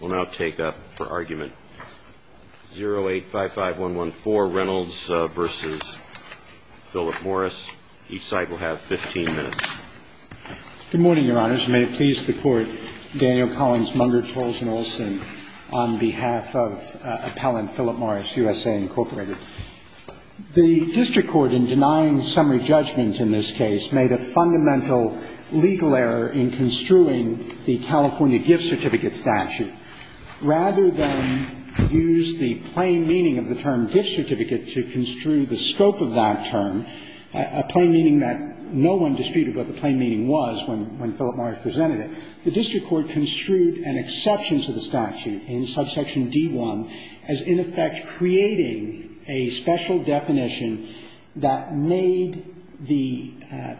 will now take up for argument 0855114, Reynolds v. Philip Morris. Each side will have 15 minutes. Good morning, Your Honors. May it please the Court, Daniel Collins Munger, Charles and Olson, on behalf of Appellant Philip Morris, USA, Incorporated. The district court in denying summary judgment in this case made a fundamental legal error in construing the California gift certificate statute. Rather than use the plain meaning of the term gift certificate to construe the scope of that term, a plain meaning that no one disputed what the plain meaning was when Philip Morris presented it, the district court construed an exception to the statute in subsection D1 as, in effect, creating a special definition that made the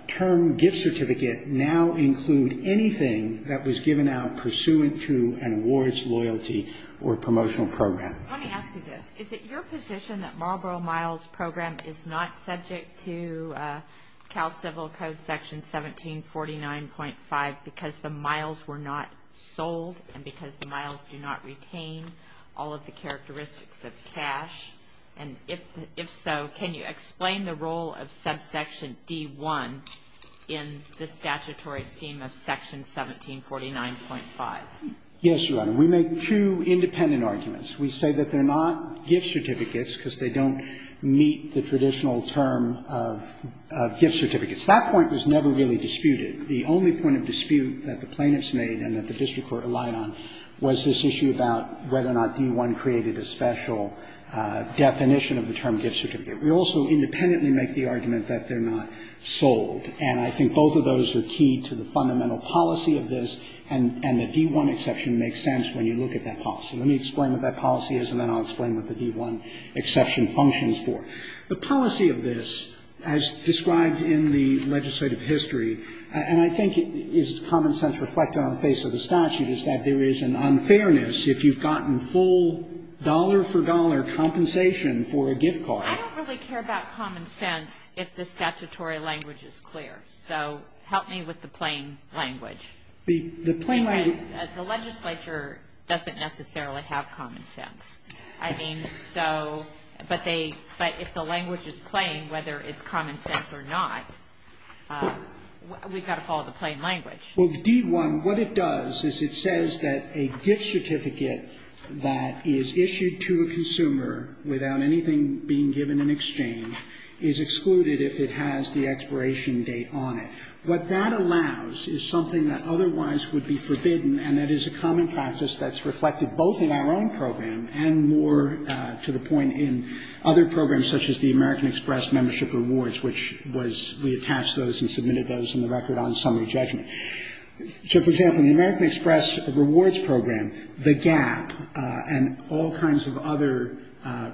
term gift certificate now include anything that was given out pursuant to an awards loyalty or promotional program. Let me ask you this. Is it your position that Marlboro Miles' program is not subject to Cal Civil Code Section 1749.5 because the miles were not sold and because the miles do not retain all of the characteristics of cash? And if so, can you explain the role of subsection D1 in the statutory scheme of Section 1749.5? Yes, Your Honor. We make two independent arguments. We say that they're not gift certificates because they don't meet the traditional term of gift certificates. That point was never really disputed. The only point of dispute that the plaintiffs made and that the district court relied on was this issue about whether or not D1 created a special definition of the term gift certificate. We also independently make the argument that they're not sold. And I think both of those are key to the fundamental policy of this. And the D1 exception makes sense when you look at that policy. Let me explain what that policy is, and then I'll explain what the D1 exception functions for. The policy of this, as described in the legislative history, and I think is common sense reflected on the face of the statute, is that there is an unfairness if you've gotten full dollar-for-dollar compensation for a gift card. I don't really care about common sense if the statutory language is clear. So help me with the plain language. The plain language. The legislature doesn't necessarily have common sense. I mean, so, but they, but if the language is plain, whether it's common sense or not, we've got to follow the plain language. Well, D1, what it does is it says that a gift certificate that is issued to a consumer without anything being given in exchange is excluded if it has the expiration date on it. What that allows is something that otherwise would be forbidden, and that is a common practice that's reflected both in our own program and more to the point in other programs, such as the American Express Membership Rewards, which was, we attached those and submitted those in the record on summary judgment. So, for example, in the American Express Rewards Program, the Gap and all kinds of other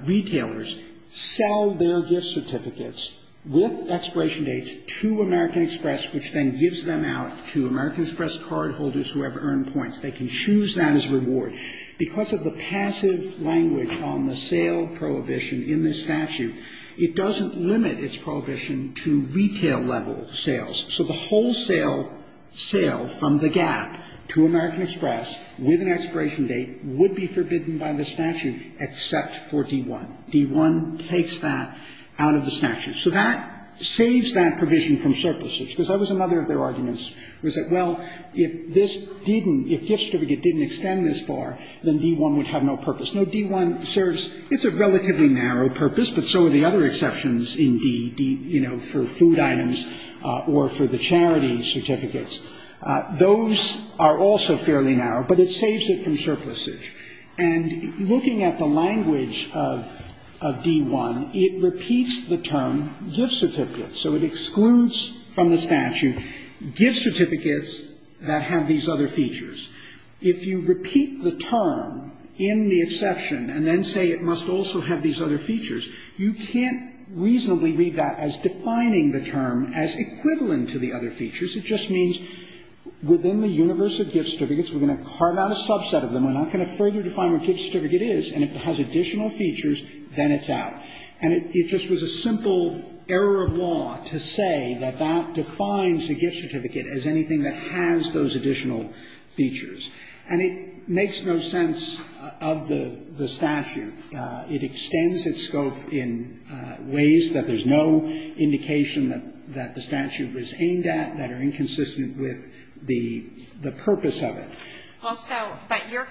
retailers sell their gift certificates with expiration dates to American Express, which then gives them out to American Express cardholders who have earned points. They can choose that as a reward. Because of the passive language on the sale prohibition in this statute, it doesn't limit its prohibition to retail-level sales. So the wholesale sale from the Gap to American Express with an expiration date would be forbidden by the statute except for D1. D1 takes that out of the statute. So that saves that provision from surpluses. Because that was another of their arguments, was that, well, if this didn't – if gift certificate didn't extend this far, then D1 would have no purpose. No, D1 serves – it's a relatively narrow purpose, but so are the other exceptions in D, you know, for food items or for the charity certificates. Those are also fairly narrow, but it saves it from surpluses. And looking at the language of D1, it repeats the term gift certificate. So it excludes from the statute gift certificates that have these other features. If you repeat the term in the exception and then say it must also have these other features, you can't reasonably read that as defining the term as equivalent to the other features. It just means within the universe of gift certificates, we're going to carve out a subset of them, we're not going to further define what gift certificate is, and if it has additional features, then it's out. And it just was a simple error of law to say that that defines a gift certificate as anything that has those additional features. And it makes no sense of the statute. It extends its scope in ways that there's no indication that the statute was aimed at, that are inconsistent with the purpose of it. Well, so, but your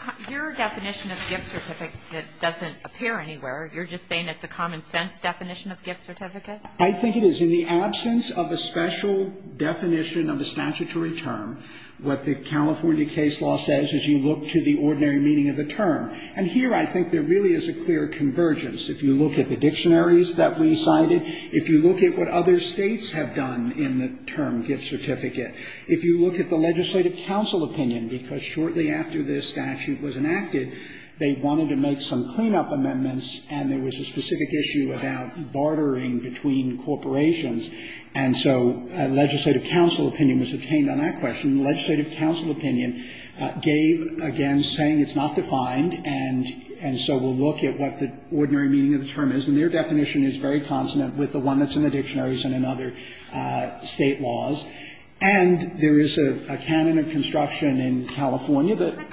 definition of gift certificate doesn't appear anywhere. You're just saying it's a common-sense definition of gift certificate? I think it is. In the absence of a special definition of a statutory term, what the California case law says is you look to the ordinary meaning of the term. And here I think there really is a clear convergence. If you look at the dictionaries that we cited, if you look at what other States have done in the term gift certificate, if you look at the legislative counsel opinion, because shortly after this statute was enacted, they wanted to make some cleanup amendments, and there was a specific issue about bartering between corporations. And so a legislative counsel opinion was obtained on that question. The legislative counsel opinion gave, again, saying it's not defined, and so we'll look at what the ordinary meaning of the term is. And their definition is very consonant with the one that's in the dictionaries and in other State laws. And there is a canon of construction in California that ----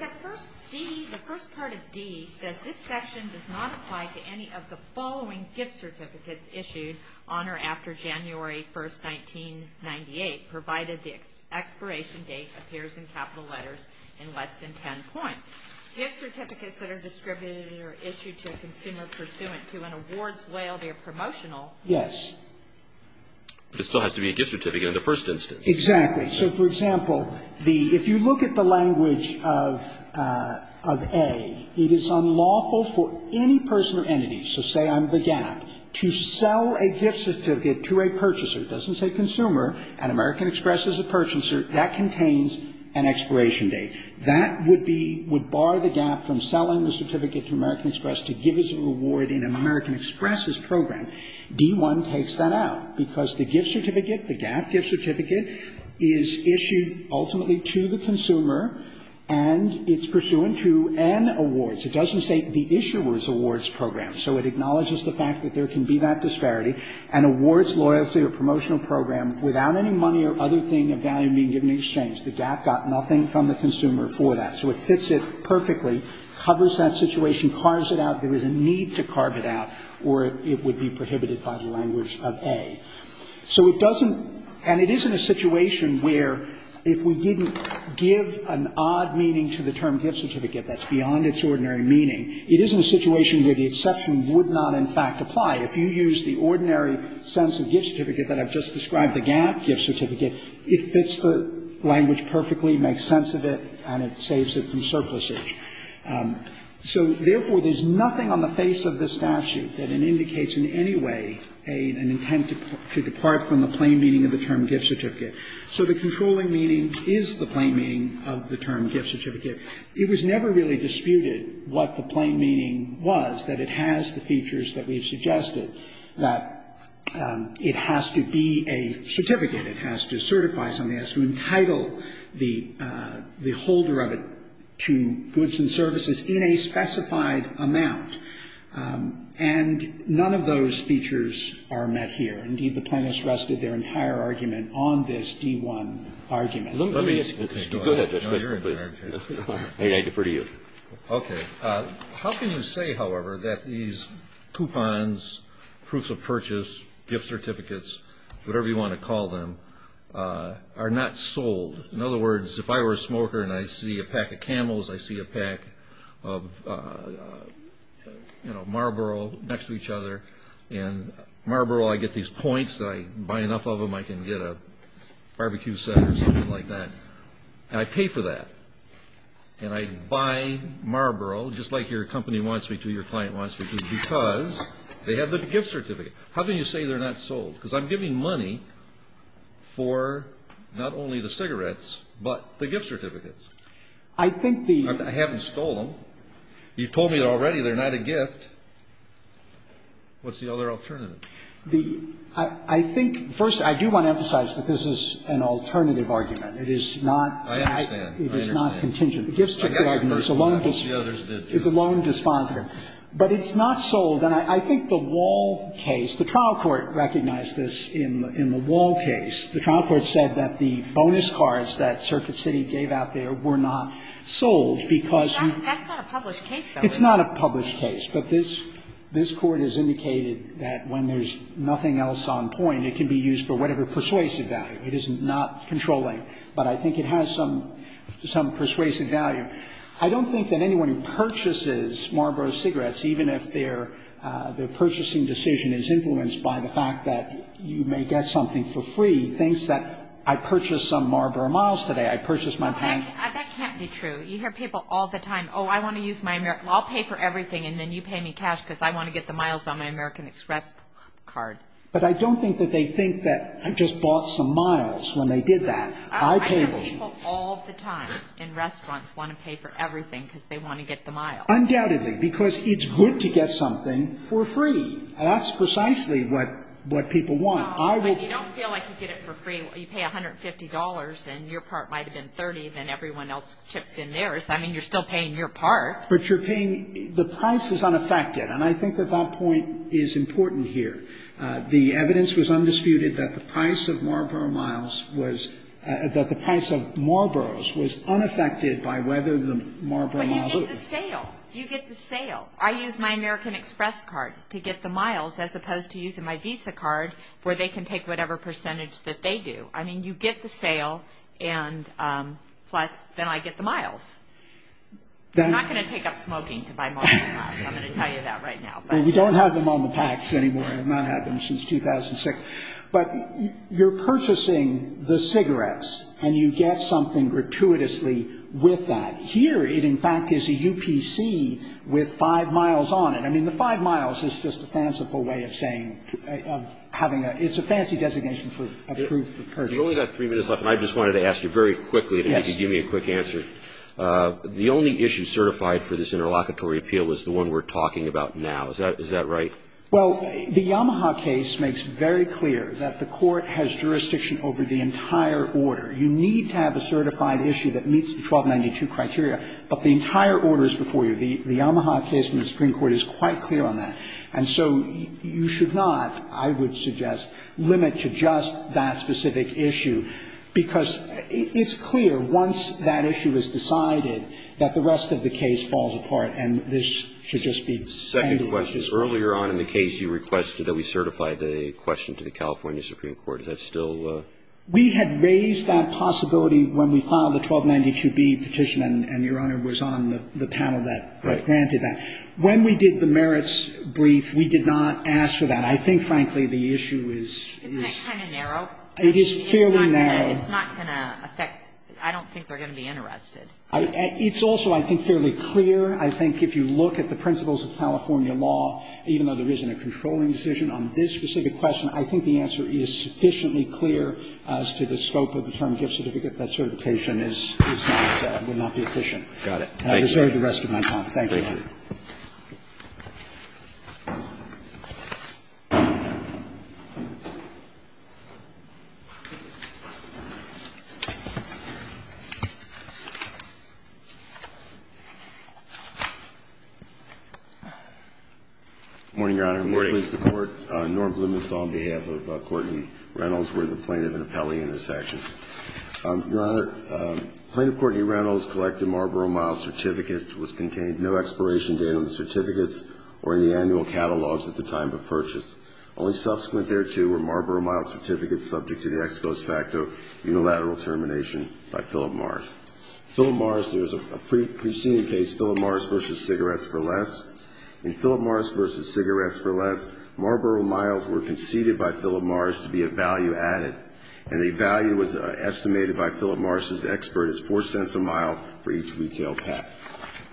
to any of the following gift certificates issued on or after January 1st, 1998, provided the expiration date appears in capital letters in less than ten points. Gift certificates that are distributed or issued to a consumer pursuant to an awards whale, they're promotional. Yes. But it still has to be a gift certificate in the first instance. Exactly. So, for example, the ---- if you look at the language of ---- of A, it is unlawful for any person or entity, so say I'm the GAP, to sell a gift certificate to a purchaser ---- it doesn't say consumer, an American Express is a purchaser ---- that contains an expiration date. That would be ---- would bar the GAP from selling the certificate to American Express to give as a reward in an American Express's program. D-1 takes that out because the gift certificate, the GAP gift certificate, is issued ultimately to the consumer and it's pursuant to an awards. It doesn't say the issuer's awards program, so it acknowledges the fact that there can be that disparity. An awards, loyalty or promotional program without any money or other thing of value being given in exchange. The GAP got nothing from the consumer for that. So it fits it perfectly, covers that situation, carves it out. There is a need to carve it out or it would be prohibited by the language of A. So it doesn't ---- and it is in a situation where if we didn't give an odd meaning to the term gift certificate that's beyond its ordinary meaning, it is in a situation where the exception would not in fact apply. If you use the ordinary sense of gift certificate that I've just described, the GAP gift certificate, it fits the language perfectly, makes sense of it and it saves it from surplusage. So, therefore, there's nothing on the face of the statute that indicates in any way an intent to depart from the plain meaning of the term gift certificate. So the controlling meaning is the plain meaning of the term gift certificate. It was never really disputed what the plain meaning was, that it has the features that we've suggested, that it has to be a certificate, it has to certify something, it has to entitle the holder of it to goods and services in a specified amount. And none of those features are met here. Indeed, the plaintiffs rested their entire argument on this D-1 argument. Let me ask you a question. Go ahead. I defer to you. Okay. How can you say, however, that these coupons, proofs of purchase, gift certificates, whatever you want to call them, are not sold? In other words, if I were a smoker and I see a pack of camels, I see a pack of Marlboro next to each other, and Marlboro, I get these points, I buy enough of them, I can get a barbecue set or something like that, and I pay for that. And I buy Marlboro, just like your company wants me to, your client wants me to, because they have the gift certificate. How can you say they're not sold? Because I'm giving money for not only the cigarettes, but the gift certificates. I think the ---- I haven't stolen them. You told me already they're not a gift. What's the other alternative? The ---- I think, first, I do want to emphasize that this is an alternative argument. It is not ---- I understand. I understand. It is not contingent. The gift certificate argument is a loan dispositive. But it's not sold. And I think the Wall case, the trial court recognized this in the Wall case. The trial court said that the bonus cards that Circuit City gave out there were not sold, because you ---- That's not a published case, though, is it? It's not a published case. But this Court has indicated that when there's nothing else on point, it can be used for whatever persuasive value. It is not controlling, but I think it has some persuasive value. I don't think that anyone who purchases Marlboro cigarettes, even if their purchasing decision is influenced by the fact that you may get something for free, thinks that I purchased some Marlboro miles today. I purchased my ---- That can't be true. You hear people all the time, oh, I want to use my American ---- I'll pay for everything, and then you pay me cash because I want to get the miles on my American Express card. But I don't think that they think that I just bought some miles when they did that. I pay ---- But people all the time in restaurants want to pay for everything because they want to get the miles. Undoubtedly, because it's good to get something for free. That's precisely what people want. I will ---- But you don't feel like you get it for free. You pay $150, and your part might have been 30, and then everyone else chips in theirs. I mean, you're still paying your part. But you're paying ---- the price is unaffected. And I think that that point is important here. The evidence was undisputed that the price of Marlboro Miles was ---- that the price of Marlboros was unaffected by whether the Marlboro Miles ---- But you get the sale. You get the sale. I use my American Express card to get the miles as opposed to using my Visa card where they can take whatever percentage that they do. I mean, you get the sale, and plus, then I get the miles. They're not going to take up smoking to buy Marlboro Miles. I'm going to tell you that right now. I mean, we don't have them on the packs anymore. I've not had them since 2006. But you're purchasing the cigarettes, and you get something gratuitously with that. Here, it, in fact, is a UPC with five miles on it. I mean, the five miles is just a fanciful way of saying ---- of having a ---- it's a fancy designation for a proof of purchase. You've only got three minutes left, and I just wanted to ask you very quickly, if you could give me a quick answer. The only issue certified for this interlocutory appeal is the one we're talking about now. Is that right? Well, the Yamaha case makes very clear that the Court has jurisdiction over the entire order. You need to have a certified issue that meets the 1292 criteria, but the entire order is before you. The Yamaha case in the Supreme Court is quite clear on that. And so you should not, I would suggest, limit to just that specific issue, because it's clear, once that issue is decided, that the rest of the case falls apart, and this should just be standard. The second question is, earlier on in the case, you requested that we certify the question to the California Supreme Court. Is that still ---- We had raised that possibility when we filed the 1292B petition, and Your Honor was on the panel that granted that. Right. When we did the merits brief, we did not ask for that. I think, frankly, the issue is ---- Isn't it kind of narrow? It is fairly narrow. It's not going to affect ---- I don't think they're going to be interested. It's also, I think, fairly clear. I think if you look at the principles of California law, even though there isn't a controlling decision on this specific question, I think the answer is sufficiently clear as to the scope of the term gift certificate, that certification is not going to be efficient. Got it. Thank you. I reserve the rest of my time. Thank you, Your Honor. Thank you. Good morning, Your Honor. Good morning. I'm going to please the Court. Norm Blumenthal on behalf of Courtney Reynolds. We're the plaintiff and appellee in this action. Your Honor, Plaintiff Courtney Reynolds collected Marlboro Miles' certificate. No expiration date on the certificates or the annual catalogs at the time of purchase. Only subsequent thereto were Marlboro Miles' certificates subject to the ex post facto unilateral termination by Philip Mars. Philip Mars, there's a preceding case, Philip Mars v. Cigarettes for Less. In Philip Mars v. Cigarettes for Less, Marlboro Miles were conceded by Philip Mars to be a value added, and the value was estimated by Philip Mars' expert as 4 cents a mile for each retail pack.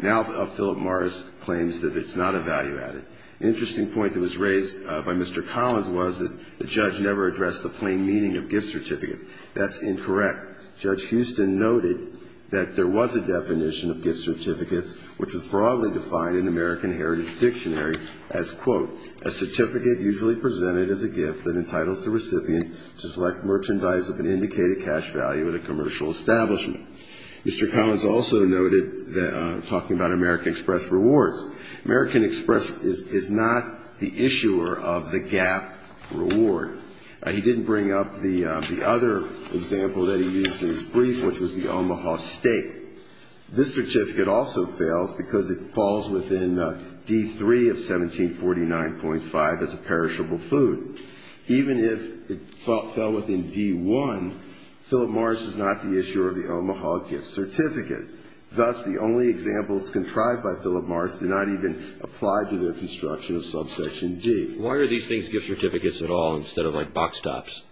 Now Philip Mars claims that it's not a value added. Interesting point that was raised by Mr. Collins was that the judge never addressed the plain meaning of gift certificates. That's incorrect. Judge Houston noted that there was a definition of gift certificates which was broadly defined in American Heritage Dictionary as, quote, a certificate usually presented as a gift that entitles the recipient to select merchandise of an indicated cash value at a commercial establishment. Mr. Collins also noted that, talking about American Express Rewards, American Express is not the issuer of the GAAP reward. He didn't bring up the other example that he used in his brief, which was the Omaha Steak. This certificate also fails because it falls within D3 of 1749.5 as a perishable food. Even if it fell within D1, Philip Mars is not the issuer of the Omaha gift certificate. Thus, the only examples contrived by Philip Mars do not even apply to their construction of subsection D. Why are these things gift certificates at all instead of like box tops?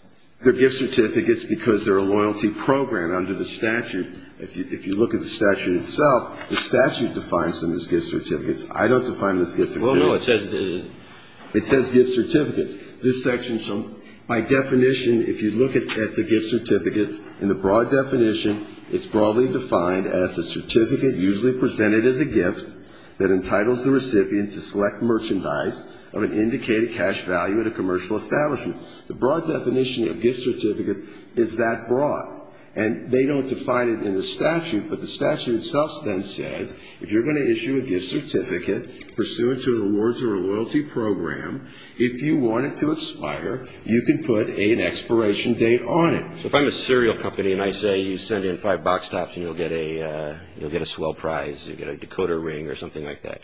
They're gift certificates because they're a loyalty program under the statute. If you look at the statute itself, the statute defines them as gift certificates. I don't define them as gift certificates. Well, no. It says gift certificates. This section, by definition, if you look at the gift certificates, in the broad definition, it's broadly defined as a certificate usually presented as a gift that entitles the recipient to select merchandise of an indicated cash value at a commercial establishment. The broad definition of gift certificates is that broad. And they don't define it in the statute, but the statute itself then says if you're going to issue a gift certificate pursuant to the rewards of a loyalty program, if you want it to expire, you can put an expiration date on it. If I'm a cereal company and I say you send in five box tops and you'll get a swell prize, you'll get a Dakota ring or something like that,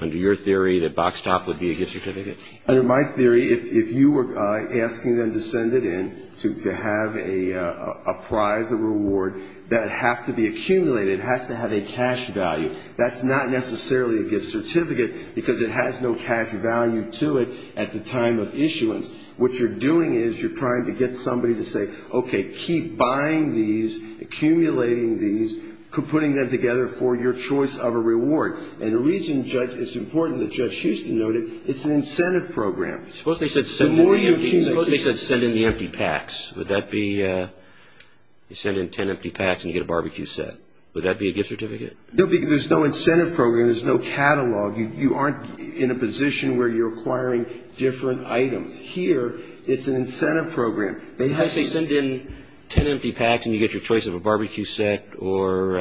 under your theory, that box top would be a gift certificate? Under my theory, if you were asking them to send it in to have a prize, a reward that would have to be accumulated, it has to have a cash value. That's not necessarily a gift certificate because it has no cash value to it at the time of issuance. What you're doing is you're trying to get somebody to say, okay, keep buying these, accumulating these, putting them together for your choice of a reward. And the reason it's important that Judge Houston note it, it's an incentive program. Suppose they said send in the empty packs. Would that be you send in ten empty packs and you get a barbecue set? Would that be a gift certificate? No, because there's no incentive program. There's no catalog. You aren't in a position where you're acquiring different items. Here, it's an incentive program. Suppose they send in ten empty packs and you get your choice of a barbecue set or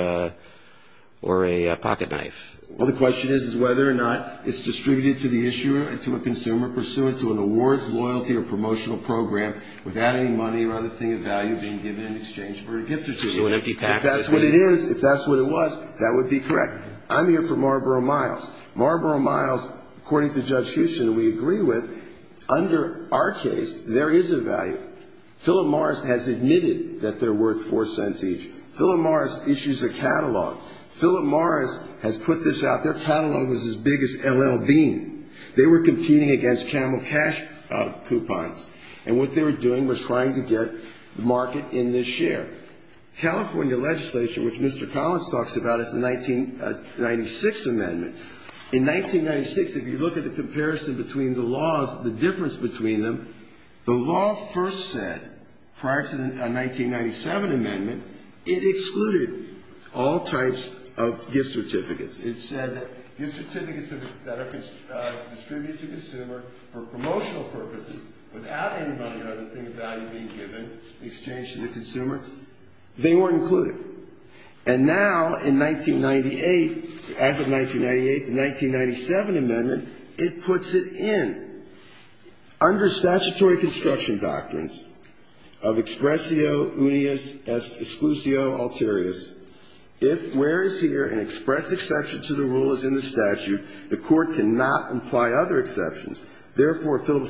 a pocket knife. Well, the question is whether or not it's distributed to the issuer, to a consumer, pursuant to an awards, loyalty, or promotional program, without any money or other thing of value being given in exchange for a gift certificate. If that's what it is, if that's what it was, that would be correct. I'm here for Marlboro Miles. Marlboro Miles, according to Judge Houston, we agree with. Under our case, there is a value. Philip Morris has admitted that they're worth four cents each. Philip Morris issues a catalog. Philip Morris has put this out. Their catalog was as big as L.L. Bean. They were competing against Camel Cash Coupons. And what they were doing was trying to get the market in this share. California legislation, which Mr. Collins talks about, is the 1996 amendment. In 1996, if you look at the comparison between the laws, the difference between them, the law first said, prior to the 1997 amendment, it excluded all types of gift certificates. It said that gift certificates that are distributed to the consumer for promotional purposes, without any money or other thing of value being given in exchange to the consumer, they weren't included. And now, in 1998, as of 1998, the 1997 amendment, it puts it in. Under statutory construction doctrines of expressio unius exclusio alterius, if, where is here, an express exception to the rule is in the statute, the court cannot imply other exceptions. Therefore, Philip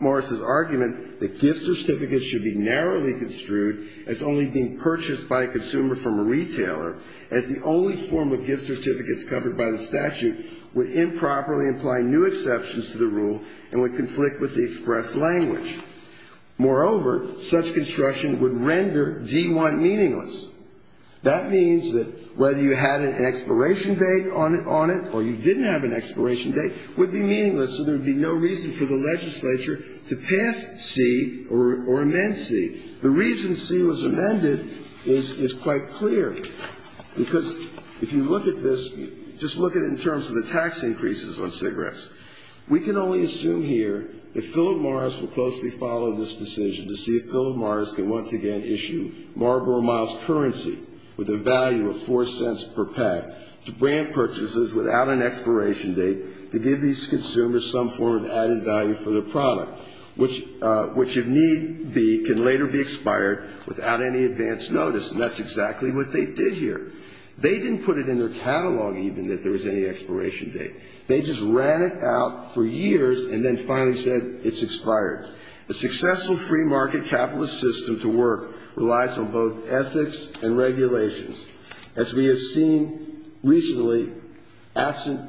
Morris's argument that gift certificates should be narrowly construed as only being purchased by a consumer from a retailer, as the only form of gift certificates covered by the statute, would improperly imply new exceptions to the rule and would conflict with the express language. Moreover, such construction would render D-1 meaningless. That means that whether you had an expiration date on it or you didn't have an expiration date would be meaningless, so there would be no reason for the legislature to pass C or amend C. The reason C was amended is quite clear, because if you look at this, just look at it in terms of the tax increases on cigarettes. We can only assume here that Philip Morris would closely follow this decision to see if Philip Morris could once again issue Marlboro Miles currency with a value of 4 cents per pack to brand purchases without an expiration date to give these consumers some form of added value for their product, which, if need be, can later be expired without any advance notice. And that's exactly what they did here. They didn't put it in their catalog even that there was any expiration date. They just ran it out for years and then finally said it's expired. A successful free market capitalist system to work relies on both ethics and regulations. As we have seen recently, absent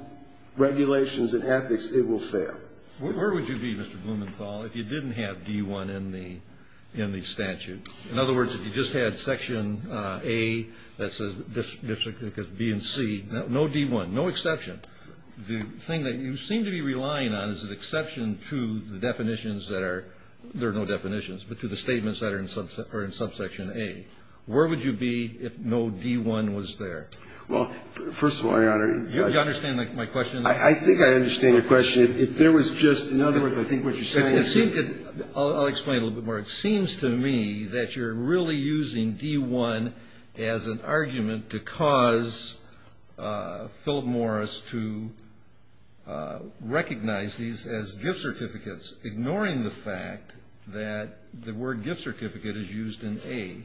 regulations and ethics, it will fail. Where would you be, Mr. Blumenthal, if you didn't have D-1 in the statute? In other words, if you just had Section A that says district because B and C, no D-1, no exception. The thing that you seem to be relying on is an exception to the definitions that are no definitions, but to the statements that are in subsection A. Where would you be if no D-1 was there? Well, first of all, Your Honor. Do you understand my question? I think I understand your question. If there was just – in other words, I think what you're saying is – I'll explain it a little bit more. It seems to me that you're really using D-1 as an argument to cause Philip Morris to recognize these as gift certificates, ignoring the fact that the word gift certificate is used in A.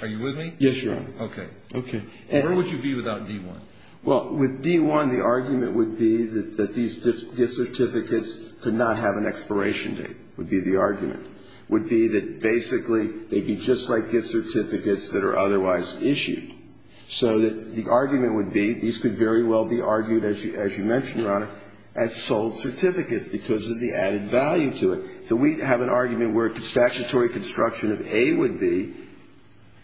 Are you with me? Yes, Your Honor. Okay. Okay. Where would you be without D-1? Well, with D-1, the argument would be that these gift certificates could not have an expiration date, would be the argument, would be that basically they'd be just like gift certificates that are otherwise issued. So that the argument would be these could very well be argued, as you mentioned, Your Honor, as sold certificates because of the added value to it. So we have an argument where statutory construction of A would be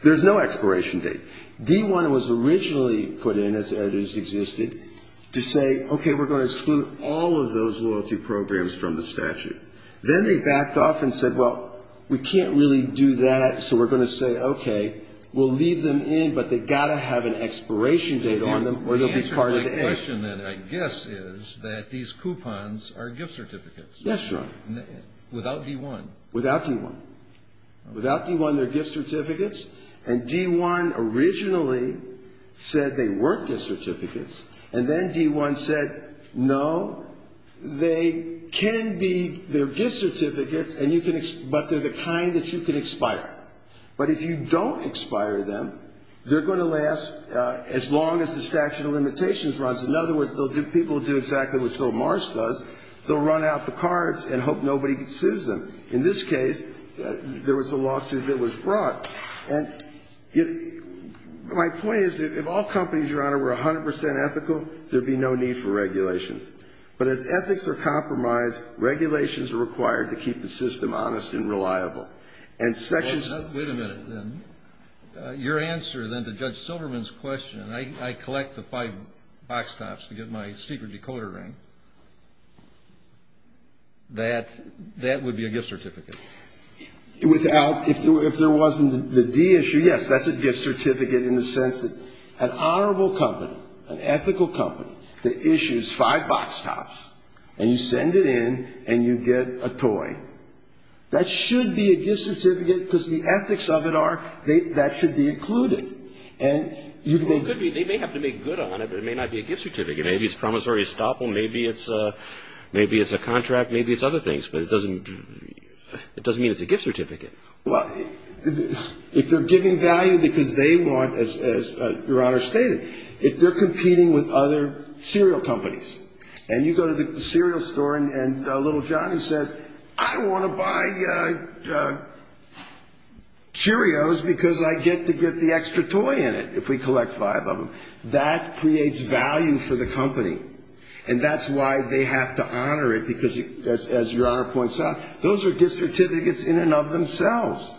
there's no expiration date. D-1 was originally put in, as it has existed, to say, okay, we're going to exclude all of those loyalty programs from the statute. Then they backed off and said, well, we can't really do that, so we're going to say, okay, we'll leave them in, but they've got to have an expiration date on them, or they'll be part of A. The answer to my question, then, I guess, is that these coupons are gift certificates. Yes, Your Honor. Without D-1. Without D-1. Without D-1, they're gift certificates, and D-1 originally said they weren't gift certificates, and then D-1 said, no, they can be, they're gift certificates, and you can, but they're the kind that you can expire. But if you don't expire them, they're going to last as long as the statute of limitations runs. In other words, they'll do, people will do exactly what Joe Marsh does. They'll run out the cards and hope nobody sues them. In this case, there was a lawsuit that was brought. And my point is, if all companies, Your Honor, were 100% ethical, there'd be no need for regulations. But as ethics are compromised, regulations are required to keep the system honest and reliable. And sections. Wait a minute, then. Your answer, then, to Judge Silverman's question, and I collect the five box tops to get my secret decoder ring. That would be a gift certificate. Without, if there wasn't the D issue, yes, that's a gift certificate in the sense that an honorable company, an ethical company, that issues five box tops, and you send it in, and you get a toy. That should be a gift certificate, because the ethics of it are, that should be included. They may have to make good on it, but it may not be a gift certificate. Maybe it's promissory estoppel. Maybe it's a contract. Maybe it's other things, but it doesn't mean it's a gift certificate. Well, if they're giving value because they want, as Your Honor stated, if they're competing with other cereal companies, and you go to the cereal store, and little Johnny says, I want to buy Cheerios because I get to get the extra toy in it, if we collect five of them, that creates value for the company. And that's why they have to honor it, because, as Your Honor points out, those are gift certificates in and of themselves.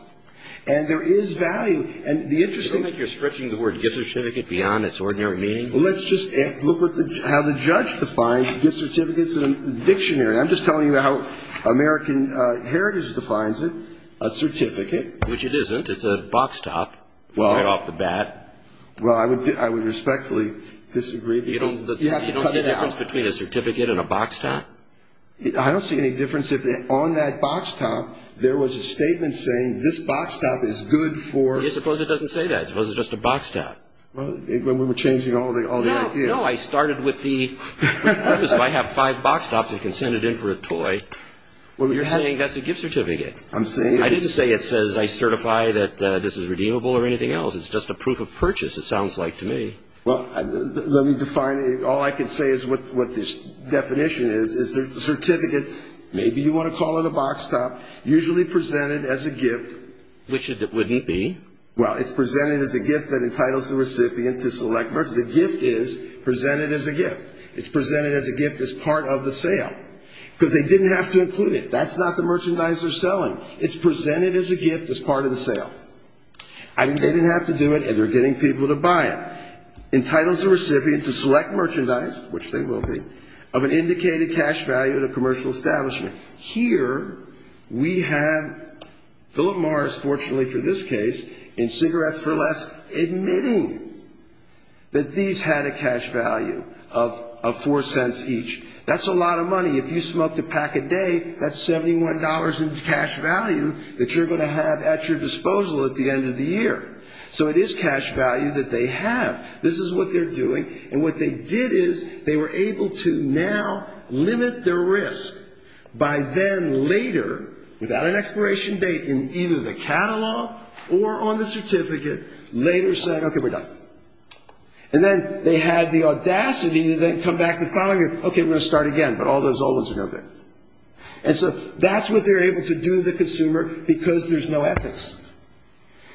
And there is value. And the interesting thing is... I don't think you're stretching the word gift certificate beyond its ordinary meaning. Well, let's just look at how the judge defines gift certificates in a dictionary. I'm just telling you how American Heritage defines it, a certificate. Which it isn't. It's a box top right off the bat. Well, I would respectfully disagree. You don't see a difference between a certificate and a box top? I don't see any difference. If on that box top there was a statement saying, this box top is good for... I suppose it doesn't say that. I suppose it's just a box top. Well, we were changing all the ideas. No, I started with the... I have five box tops, I can send it in for a toy. You're saying that's a gift certificate. I'm saying... I didn't say it says I certify that this is redeemable or anything else. It's just a proof of purchase, it sounds like to me. Well, let me define it. All I can say is what this definition is, is a certificate, maybe you want to call it a box top, usually presented as a gift. Which it wouldn't be. Well, it's presented as a gift that entitles the recipient to select merchandise. The gift is presented as a gift. It's presented as a gift as part of the sale, because they didn't have to include it. That's not the merchandise they're selling. It's presented as a gift as part of the sale. They didn't have to do it, and they're getting people to buy it. Entitles the recipient to select merchandise, which they will be, of an indicated cash value at a commercial establishment. Here we have Philip Morris, fortunately for this case, in Cigarettes for Less, admitting that these had a cash value of four cents each. That's a lot of money. If you smoked a pack a day, that's $71 in cash value that you're going to have at your disposal at the end of the year. So it is cash value that they have. This is what they're doing. And what they did is they were able to now limit their risk by then later, without an expiration date, in either the catalog or on the certificate, later saying, okay, we're done. And then they had the audacity to then come back the following year, okay, we're going to start again, but all those old ones are no good. And so that's what they're able to do to the consumer, because there's no ethics.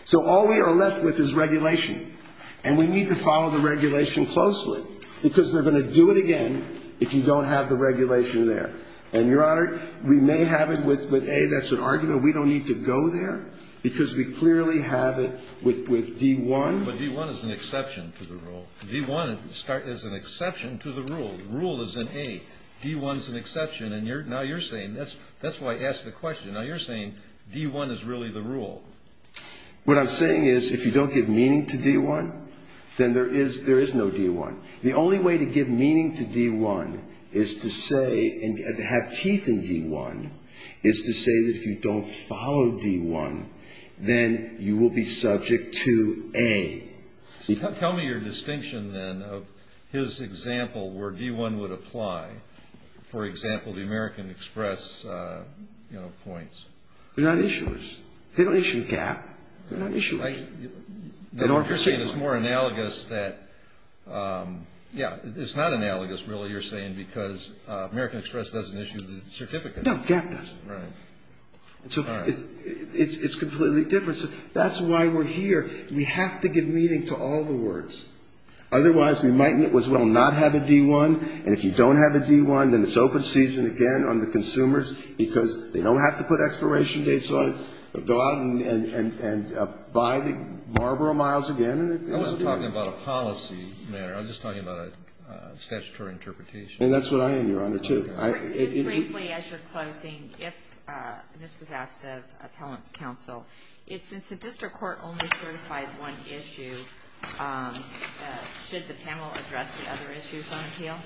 So all we are left with is regulation. And we need to follow the regulation closely, because they're going to do it again if you don't have the regulation there. And, Your Honor, we may have it with A, that's an argument. We don't need to go there, because we clearly have it with D1. But D1 is an exception to the rule. D1 is an exception to the rule. The rule is in A. D1 is an exception. And now you're saying that's why I asked the question. Now you're saying D1 is really the rule. What I'm saying is if you don't give meaning to D1, then there is no D1. The only way to give meaning to D1 is to say, and have teeth in D1, is to say that if you don't follow D1, then you will be subject to A. Tell me your distinction, then, of his example where D1 would apply. For example, the American Express, you know, points. They're not issuers. They don't issue GAAP. They're not issuers. You're saying it's more analogous that, yeah, it's not analogous, really, you're saying, because American Express doesn't issue the certificate. No, GAAP does. Right. So it's completely different. So that's why we're here. We have to give meaning to all the words. Otherwise, we might as well not have a D1. And if you don't have a D1, then it's open season again on the consumers because they don't have to put expiration dates on it. Go out and buy the Marlboro Miles again. I'm not talking about a policy matter. I'm just talking about a statutory interpretation. And that's what I am, Your Honor, too. Kagan. As briefly as you're closing, if, and this was asked of Appellant's counsel, since the district court only certified one issue, should the panel address the other issues on appeal?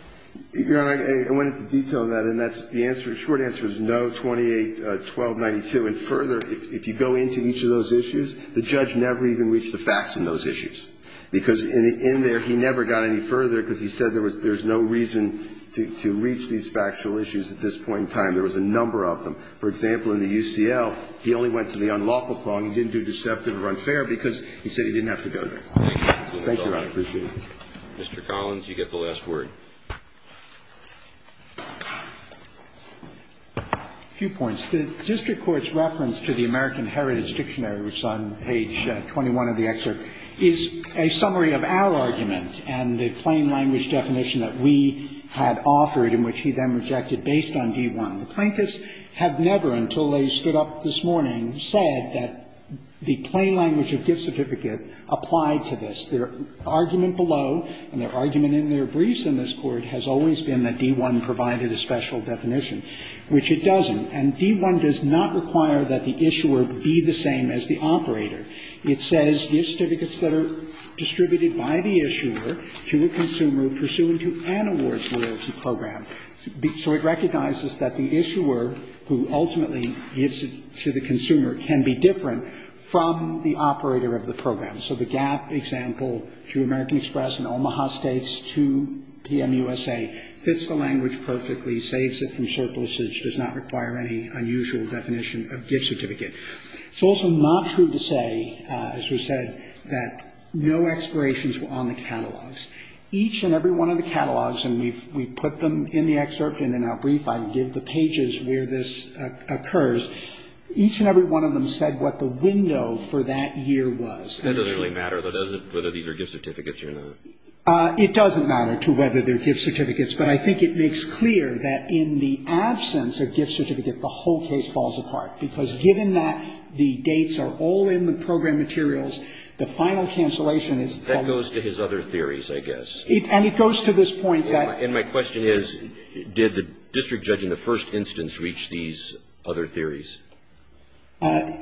Your Honor, I went into detail on that, and that's the answer, short answer is no, 281292. And further, if you go into each of those issues, the judge never even reached the facts in those issues. Because in there, he never got any further because he said there was no reason to reach these factual issues at this point in time. There was a number of them. For example, in the UCL, he only went to the unlawful clause. He didn't do deceptive or unfair because he said he didn't have to go there. Thank you, Your Honor. I appreciate it. Mr. Collins, you get the last word. A few points. The district court's reference to the American Heritage Dictionary, which is on page 21 of the excerpt, is a summary of our argument and the plain language definition that we had offered and which he then rejected based on D-1. The plaintiffs have never, until they stood up this morning, said that the plain language of gift certificate applied to this. Their argument below and their argument in their briefs in this Court has always been that D-1 provided a special definition, which it doesn't. And D-1 does not require that the issuer be the same as the operator. It says, So it recognizes that the issuer who ultimately gives it to the consumer can be different from the operator of the program. So the GAP example, through American Express and Omaha States to PMUSA, fits the language perfectly, saves it from surpluses, does not require any unusual definition of gift certificate. It's also not true to say, as was said, that no expirations were on the catalogs. Each and every one of the catalogs, and we've put them in the excerpt and in our brief, I give the pages where this occurs, each and every one of them said what the window for that year was. That doesn't really matter, though, does it, whether these are gift certificates or not? It doesn't matter to whether they're gift certificates, but I think it makes clear that in the absence of gift certificate, the whole case falls apart. Because given that the dates are all in the program materials, the final cancellation is the law. That goes to his other theories, I guess. And it goes to this point that my question is, did the district judge in the first instance reach these other theories?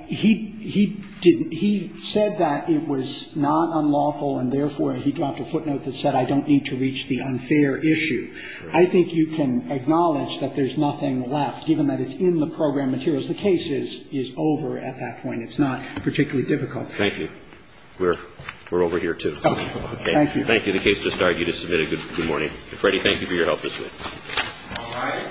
He didn't. He said that it was not unlawful, and therefore he dropped a footnote that said I don't need to reach the unfair issue. I think you can acknowledge that there's nothing left, given that it's in the program materials. The case is over at that point. It's not particularly difficult. Thank you. We're over here, too. Okay. Thank you. Thank you. The case just started. You just submitted. Good morning. Freddie, thank you for your help this week. All right. Thank you.